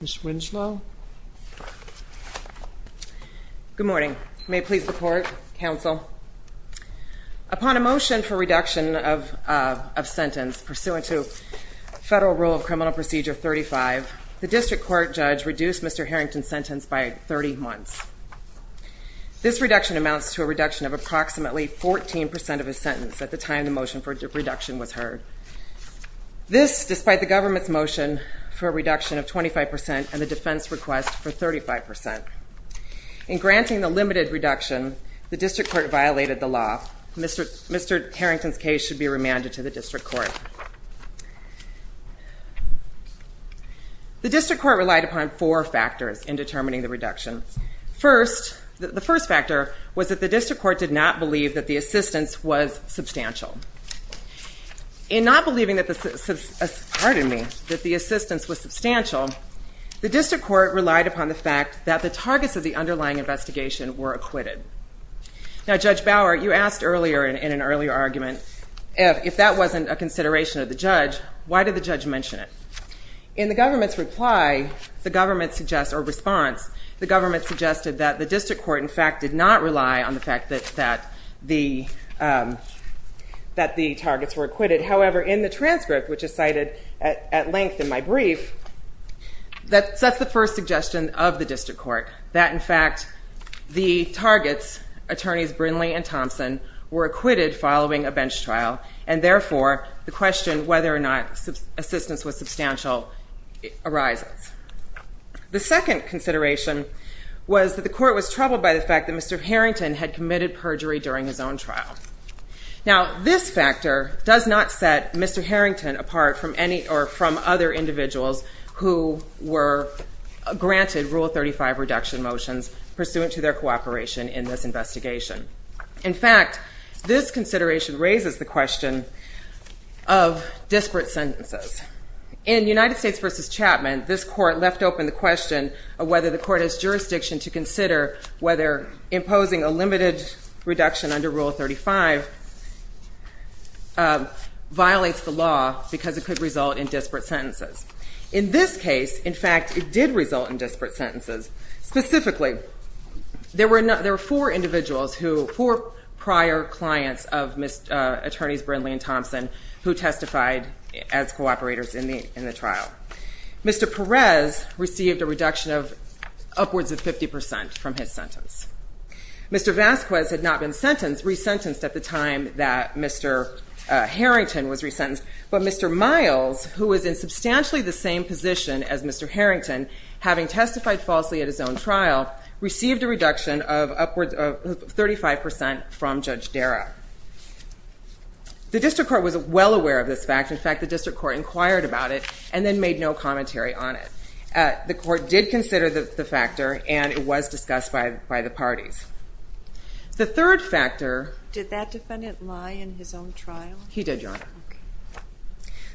Ms. Winslow. Good morning. May it please the court, counsel. Upon a motion for reduction of sentence pursuant to federal rule of criminal procedure 35, the district court judge reduced Mr. Harrington's sentence by 30 months. This reduction amounts to a reduction of approximately 14 percent of his sentence at the time the motion for reduction was heard. This, despite the government's motion for a reduction of 25 percent and the defense request for 35 percent. In granting the limited reduction, the district court violated the law. Mr. Harrington's case should be remanded to the district court. The district court relied upon four factors in determining the reduction. First, the first factor was that the district court did not believe that the assistance was substantial. The district court relied upon the fact that the targets of the underlying investigation were acquitted. Now, Judge Bauer, you asked earlier in an earlier argument, if that wasn't a consideration of the judge, why did the judge mention it? In the government's reply, the government suggests, or response, the government suggested that the district court, in fact, did not rely on the fact that the targets were acquitted. However, in the transcript, which is cited at length in my brief, that's the first suggestion of the district court, that, in fact, the targets, attorneys Brindley and Thompson, were acquitted following a bench trial and, therefore, the question whether or not assistance was substantial arises. The second consideration was that the court was his own trial. Now, this factor does not set Mr. Harrington apart from any, or from other individuals who were granted Rule 35 reduction motions pursuant to their cooperation in this investigation. In fact, this consideration raises the question of disparate sentences. In United States v. Chapman, this court left open the question of whether the court has reduction under Rule 35 violates the law because it could result in disparate sentences. In this case, in fact, it did result in disparate sentences. Specifically, there were four individuals who, four prior clients of attorneys Brindley and Thompson who testified as cooperators in the trial. Mr. Perez received a reduction of upwards of 50 percent from his sentence. Mr. Vasquez had not been sentenced, resentenced at the time that Mr. Harrington was resentenced, but Mr. Miles, who was in substantially the same position as Mr. Harrington, having testified falsely at his own trial, received a reduction of upwards of 35 percent from Judge Dara. The district court was well aware of this fact. In fact, the district court inquired about it and then made no commentary on it. The court did consider the factor and it was discussed by the parties. The third factor... Did that defendant lie in his own trial? He did, Your Honor.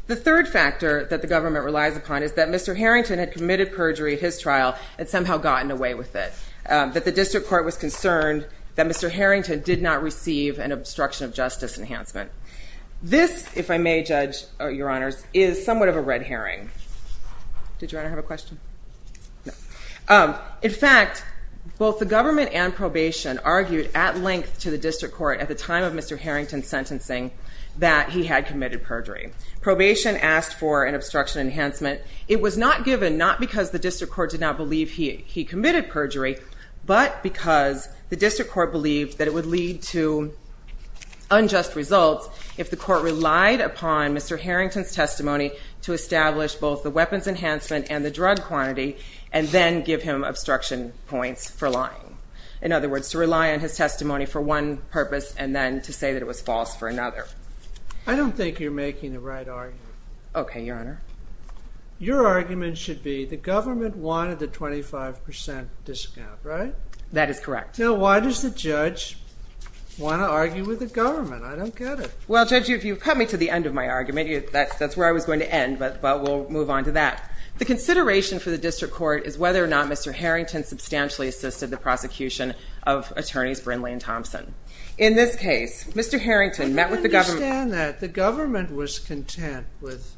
The third factor that the government relies upon is that Mr. Harrington had committed perjury at his trial and somehow gotten away with it, that the district court was concerned that Mr. Harrington did not receive an obstruction of justice enhancement. This, if I may, Judge, Your Honors, is somewhat of a red herring. Did Your Honor have a question? In fact, both the government and probation argued at length to the district court at the time of Mr. Harrington's sentencing that he had committed perjury. Probation asked for an obstruction enhancement. It was not given, not because the district court did not believe he committed perjury, but because the testimony to establish both the weapons enhancement and the drug quantity and then give him obstruction points for lying. In other words, to rely on his testimony for one purpose and then to say that it was false for another. I don't think you're making the right argument. Okay, Your Honor. Your argument should be the government wanted the 25 percent discount, right? That is correct. Now, why does the judge want to argue with the government? I don't get it. Well, Judge, if you cut me to the end of my argument, that's where I was going to end, but we'll move on to that. The consideration for the district court is whether or not Mr. Harrington substantially assisted the prosecution of attorneys Brindley and Thompson. In this case, Mr. Harrington met with the government. I don't understand that. The government was content with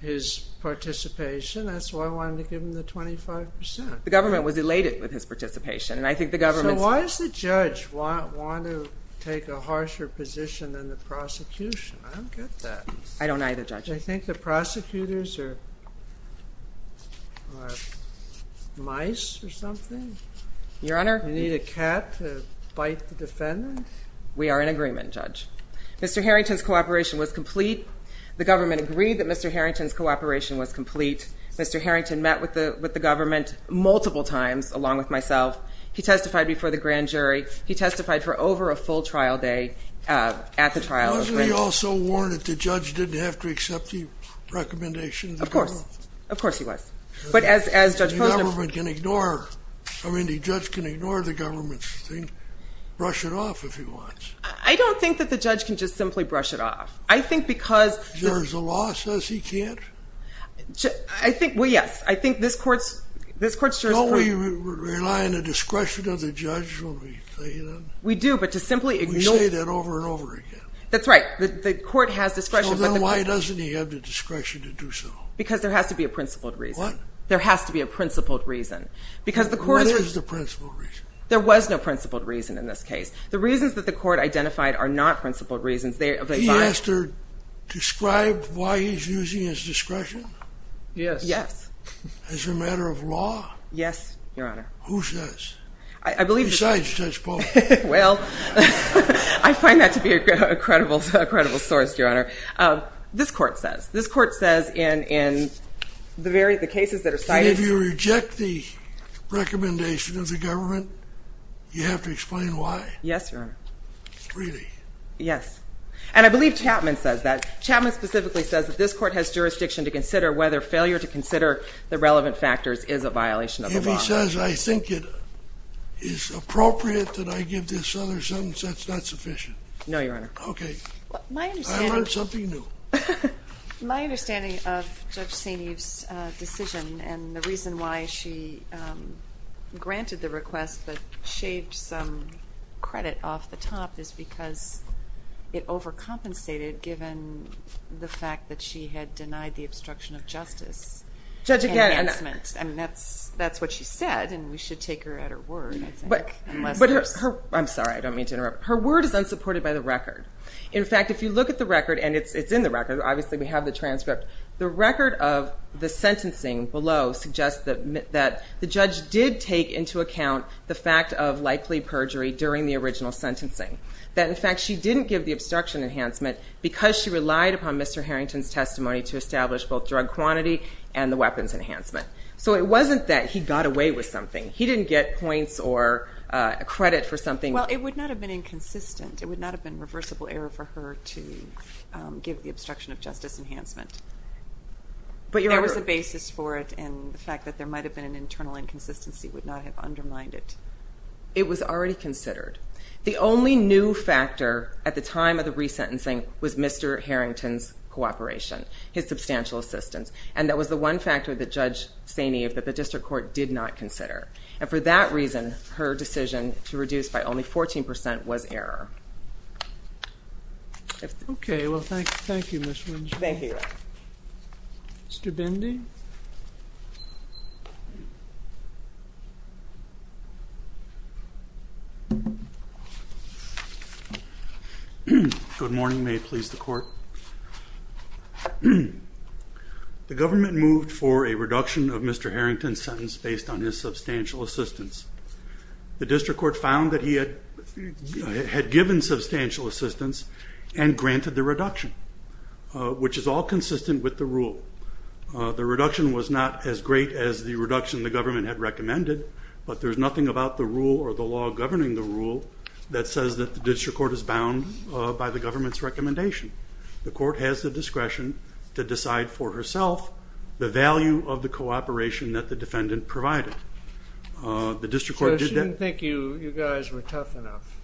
his participation. That's why I wanted to give him the 25 percent. The government was elated with his participation, and I think the government... So why does the judge want to take a harsher position than the I don't either, Judge. I think the prosecutors are mice or something. Your Honor. You need a cat to bite the defendant. We are in agreement, Judge. Mr. Harrington's cooperation was complete. The government agreed that Mr. Harrington's cooperation was complete. Mr. Harrington met with the government multiple times, along with myself. He testified before the grand jury. He testified for over a full trial day at the trial. Wasn't he also warned that the judge didn't have to accept the recommendation? Of course. Of course he was. But as Judge Posner... The government can ignore... I mean, the judge can ignore the government's thing, brush it off if he wants. I don't think that the judge can just simply brush it off. I think because... Is there a law that says he can't? I think... Well, yes. I think this court's... Don't we rely on the discretion of the judge when we say that? We do, but to simply ignore... We say that over and over again. That's right. The court has discretion... So then why doesn't he have the discretion to do so? Because there has to be a principled reason. What? There has to be a principled reason. Because the court... What is the principled reason? There was no principled reason in this case. The reasons that the court identified are not principled reasons. They... Did he ask to describe why he's using his discretion? Yes. Yes. As a matter of law? Yes, Your Honor. Who says? Besides Judge Posner? Well, I find that to be a credible source, Your Honor. This court says. This court says in the cases that are cited... And if you reject the recommendation of the government, you have to explain why? Yes, Your Honor. Really? Yes. And I believe Chapman says that. Chapman specifically says that this court has jurisdiction to consider whether failure to consider the relevant factors is a violation of the law. If he says I think it is appropriate that I give this other sentence, that's not sufficient? No, Your Honor. Okay. My understanding... I learned something new. My understanding of Judge St. Eve's decision and the reason why she granted the request but shaved some credit off the top is because it overcompensated given the fact that she had denied the obstruction of justice. Judge, again... Enhancement. I mean, that's what she said and we should take her at her word, I think. But her... I'm sorry. I don't mean to interrupt. Her word is unsupported by the record. In fact, if you look at the record and it's in the record, obviously we have the transcript. The record of the sentencing below suggests that the judge did take into account the fact of likely perjury during the original sentencing. That, in fact, she didn't give the obstruction enhancement because she relied upon Mr. Harrington's testimony to establish both drug quantity and the weapons enhancement. So it wasn't that he got away with something. He didn't get points or credit for something. Well, it would not have been inconsistent. It would not have been reversible error for her to give the obstruction of justice enhancement. But there was a basis for it and the fact that there might have been an internal inconsistency would not have undermined it. It was already considered. The only new factor at the time of the resentencing was Mr. Harrington's cooperation, his substantial assistance. And that was the one factor that Judge Saineev, that the district court did not consider. And for that reason, her decision to reduce by only 14% was error. Okay. Well, thank you, Ms. Wynja. Thank you. Mr. Bindi? Good morning. May it please the court. The government moved for a reduction of Mr. Harrington's sentence based on his substantial assistance. The district court found that he had given substantial assistance and granted the reduction, which is all consistent with the rule. The reduction was not as great as the reduction the government had recommended, but there's nothing about the rule or the law governing the rule that says that the district court is bound by the government's recommendation. The court has the discretion to decide for herself the value of the cooperation that the defendant provided. So she didn't think you guys were tough enough?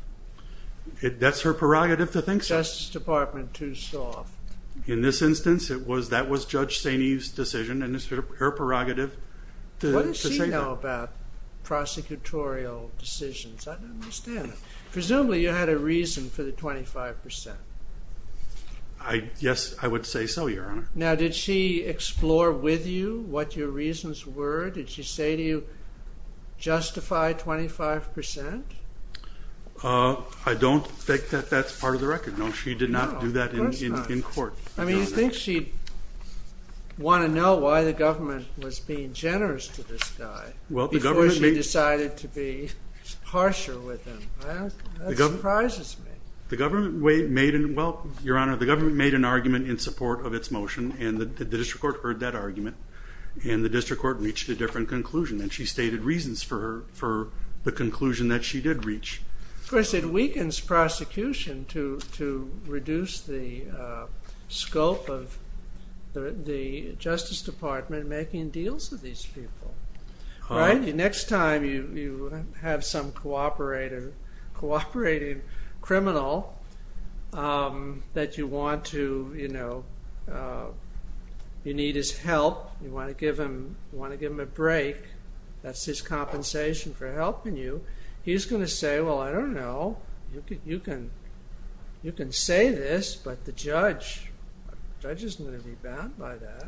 That's her prerogative to think so. Justice Department too soft. In this instance, that was Judge Saineev's decision and it's her prerogative to say that. What did she know about prosecutorial decisions? I don't understand. Presumably you had a reason for the 25%. Yes, I would say so, Your Honor. Now, did she explore with you what your reasons were? Did she say to you, justify 25%? I don't think that that's part of the record. No, she did not do that in court. I mean, you think she'd want to know why the government was being generous to this guy before she decided to be harsher with him. That surprises me. The government made an argument in support of its motion and the district court heard that argument and the district court reached a different conclusion and she stated reasons for the conclusion that she did reach. Of course, it weakens prosecution to reduce the scope of the Justice Department making deals with these people. Next time you have some cooperating criminal that you want to, you know, you need his help, you want to give him a break, that's his compensation for helping you, he's going to say, well, I don't know, you can say this, but the judge, the judge isn't going to be bound by that,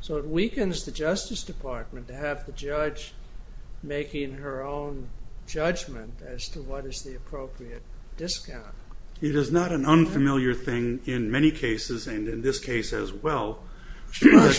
so it weakens the Justice Department to have the judge making her own judgment as to what is the appropriate discount. It is not an unfamiliar thing in many cases and in this case as well that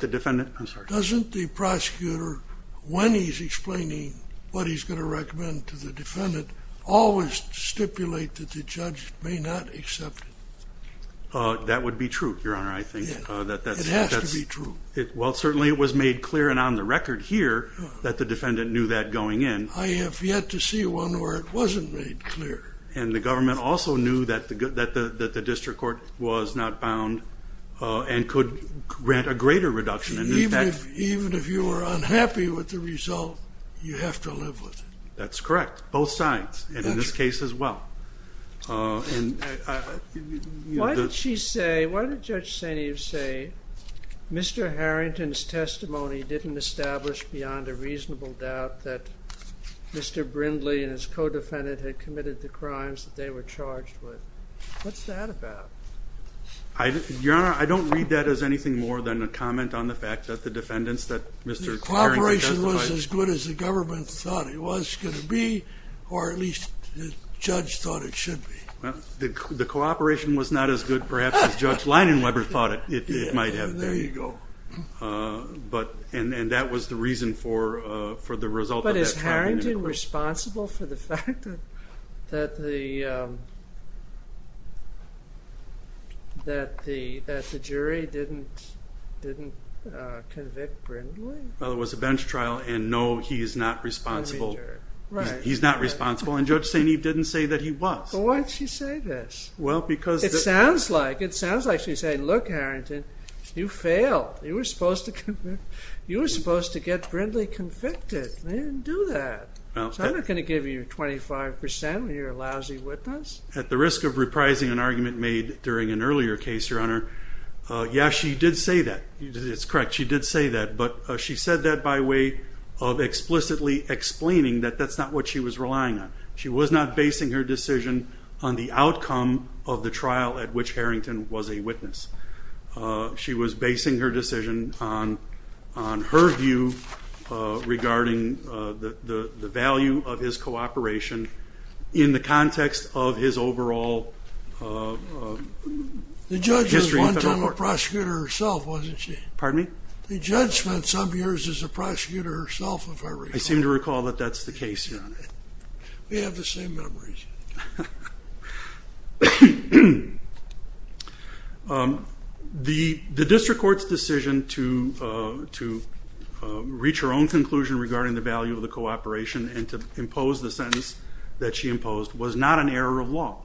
the defendant, I'm sorry, doesn't the prosecutor, when he's explaining what he's going to recommend to the defendant, always stipulate that the judge may not accept it. That would be true, your honor, I think. It has to be true. Well, certainly it was made clear and on the record here that the defendant knew that going in. I have yet to see one where it wasn't made clear. And the government also knew that the district court was not bound and could grant a greater reduction. Even if you were unhappy with the Why did she say, why did Judge St. Eve say Mr. Harrington's testimony didn't establish beyond a reasonable doubt that Mr. Brindley and his co-defendant had committed the crimes that they were charged with? What's that about? Your honor, I don't read that as anything more than a comment on the fact that the defendants that Mr. Harrington testified. The cooperation was as good as the government thought it was going to be, or at least the judge thought it should be. The cooperation was not as good perhaps as Judge Leinenweber thought it might have been. There you go. And that was the reason for the result of that trial. But is Harrington responsible for the fact that the jury didn't convict Brindley? Well, it was a bench trial and no, he is not responsible. He's not responsible and Judge St. Eve didn't say that he was. But why did she say this? Well, because it sounds like, it sounds like she's saying, look Harrington, you failed. You were supposed to convict, you were supposed to get Brindley convicted. They didn't do that. So I'm not going to give you 25% when you're a lousy witness. At the risk of reprising an argument made during an earlier case, your honor. Yeah, she did say that. It's correct. She did say that, but she said that by of explicitly explaining that that's not what she was relying on. She was not basing her decision on the outcome of the trial at which Harrington was a witness. She was basing her decision on on her view regarding the value of his cooperation in the context of his overall The judge was one time a prosecutor herself, wasn't she? Pardon me? The judge spent some years as a prosecutor herself, if I recall. I seem to recall that that's the case, your honor. We have the same memories. The district court's decision to reach her own conclusion regarding the value of the cooperation and to impose the sentence that she imposed was not an error of law.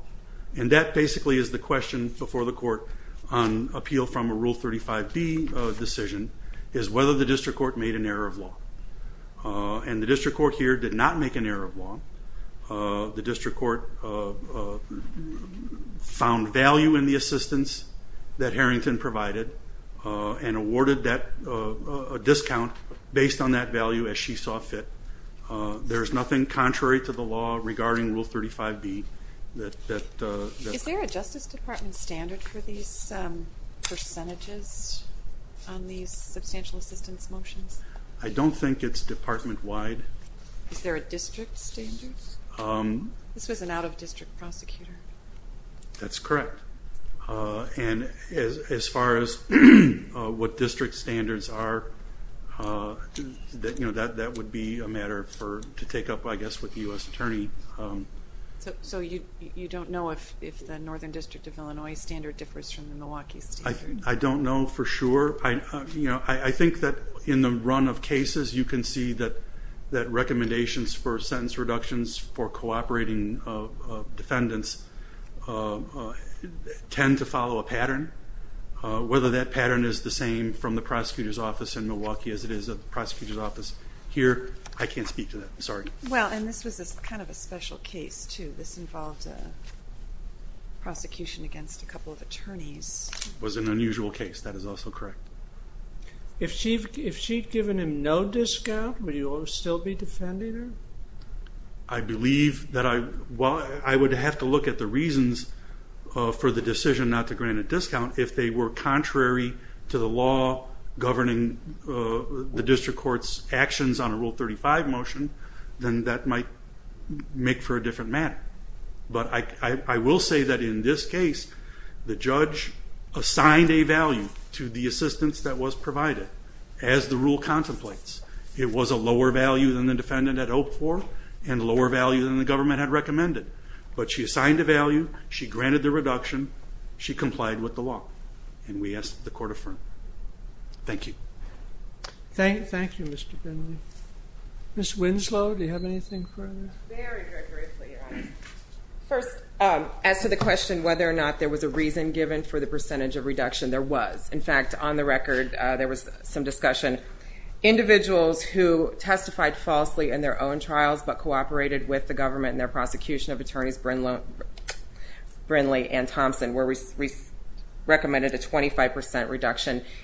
And that basically is the question before the court on appeal from a Rule 35b decision, is whether the district court made an error of law. And the district court here did not make an error of law. The district court found value in the assistance that Harrington provided and awarded a discount based on that value as she saw fit. There's nothing contrary to the law regarding Rule 35b. Is there a Justice Department standard for these percentages on these substantial assistance motions? I don't think it's department wide. Is there a district standard? This was an out-of-district prosecutor. That's correct. And as far as what district standards are, that would be a matter for to take up, I guess, with the U.S. Attorney. So you don't know if the Northern District of Illinois standard differs from the Milwaukee standard? I don't know for sure. I think that in the run of cases you can see that recommendations for sentence reductions for cooperating defendants tend to follow a pattern. Whether that pattern is the same from the prosecutor's office in Milwaukee as it is at the prosecutor's office here, I can't speak to that. Sorry. Well, and this was kind of a special case too. This involved a prosecution against a couple of attorneys. It was an unusual case. That is also correct. If she'd given him no discount, would you still be defending her? I believe that I would have to look at the reasons for the decision not to grant a discount if they were contrary to the law governing the district court's actions on a Rule 35 motion, then that might make for a different matter. But I will say that in this case, the judge assigned a value to the assistance that was provided as the rule contemplates. It was a lower value than the defendant had hoped for and lower value than the government had recommended. But she assigned a value, she granted the reduction, she complied with the law, and we asked that the court affirm. Thank you. Thank you, Mr. Brindley. Ms. Winslow, do you have anything further? Very, very briefly. First, as to the question whether or not there was a reason given for the percentage of reduction, there was. In fact, on the record, there was some discussion. Individuals who testified falsely in their own trials but cooperated with the government and their prosecution of attorneys Brindley and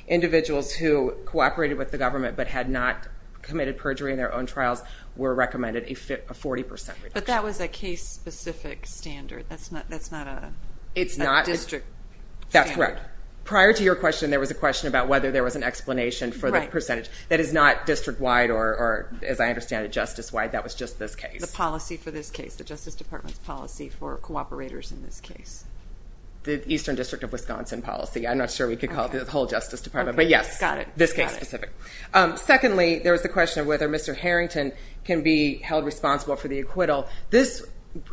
individuals who cooperated with the government but had not committed perjury in their own trials were recommended a 40% reduction. But that was a case-specific standard. That's not a district. That's correct. Prior to your question, there was a question about whether there was an explanation for the percentage. That is not district-wide or, as I understand it, justice-wide. That was just this case. The policy for this case, the Justice Department's policy for cooperators in this case. The Eastern District of Wisconsin policy. I'm not sure we could call it the whole Justice Department, but yes. Got it. This case-specific. Secondly, there was the question of whether Mr. Harrington can be held responsible for the acquittal. This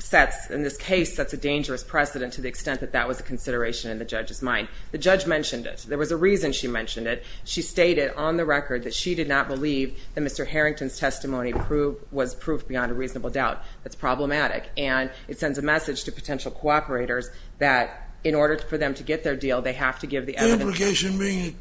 sets, in this case, sets a dangerous precedent to the extent that that was a consideration in the judge's mind. The judge mentioned it. There was a reason she mentioned it. She stated on the record that she did not believe that Mr. Harrington's testimony was proof beyond a reasonable doubt. That's that in order for them to get their deal, they have to give the evidence. The implication being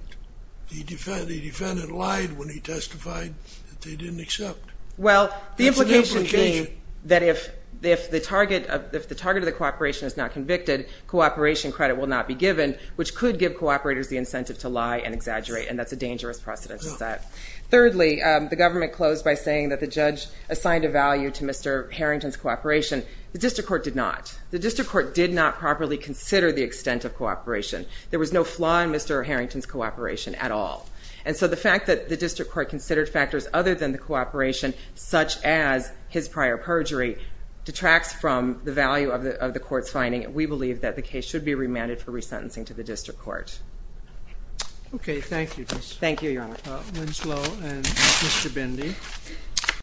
the defendant lied when he testified that they didn't accept. Well, the implication being that if the target of the cooperation is not convicted, cooperation credit will not be given, which could give cooperators the incentive to lie and exaggerate, and that's a dangerous precedent to set. Thirdly, the government closed by saying that the judge assigned a value to Mr. Harrington's cooperation. The district court did not properly consider the extent of cooperation. There was no flaw in Mr. Harrington's cooperation at all, and so the fact that the district court considered factors other than the cooperation, such as his prior perjury, detracts from the value of the court's finding. We believe that the case should be remanded for resentencing to the district court. Okay, thank you, Ms. Winslow and Mr. Bindi.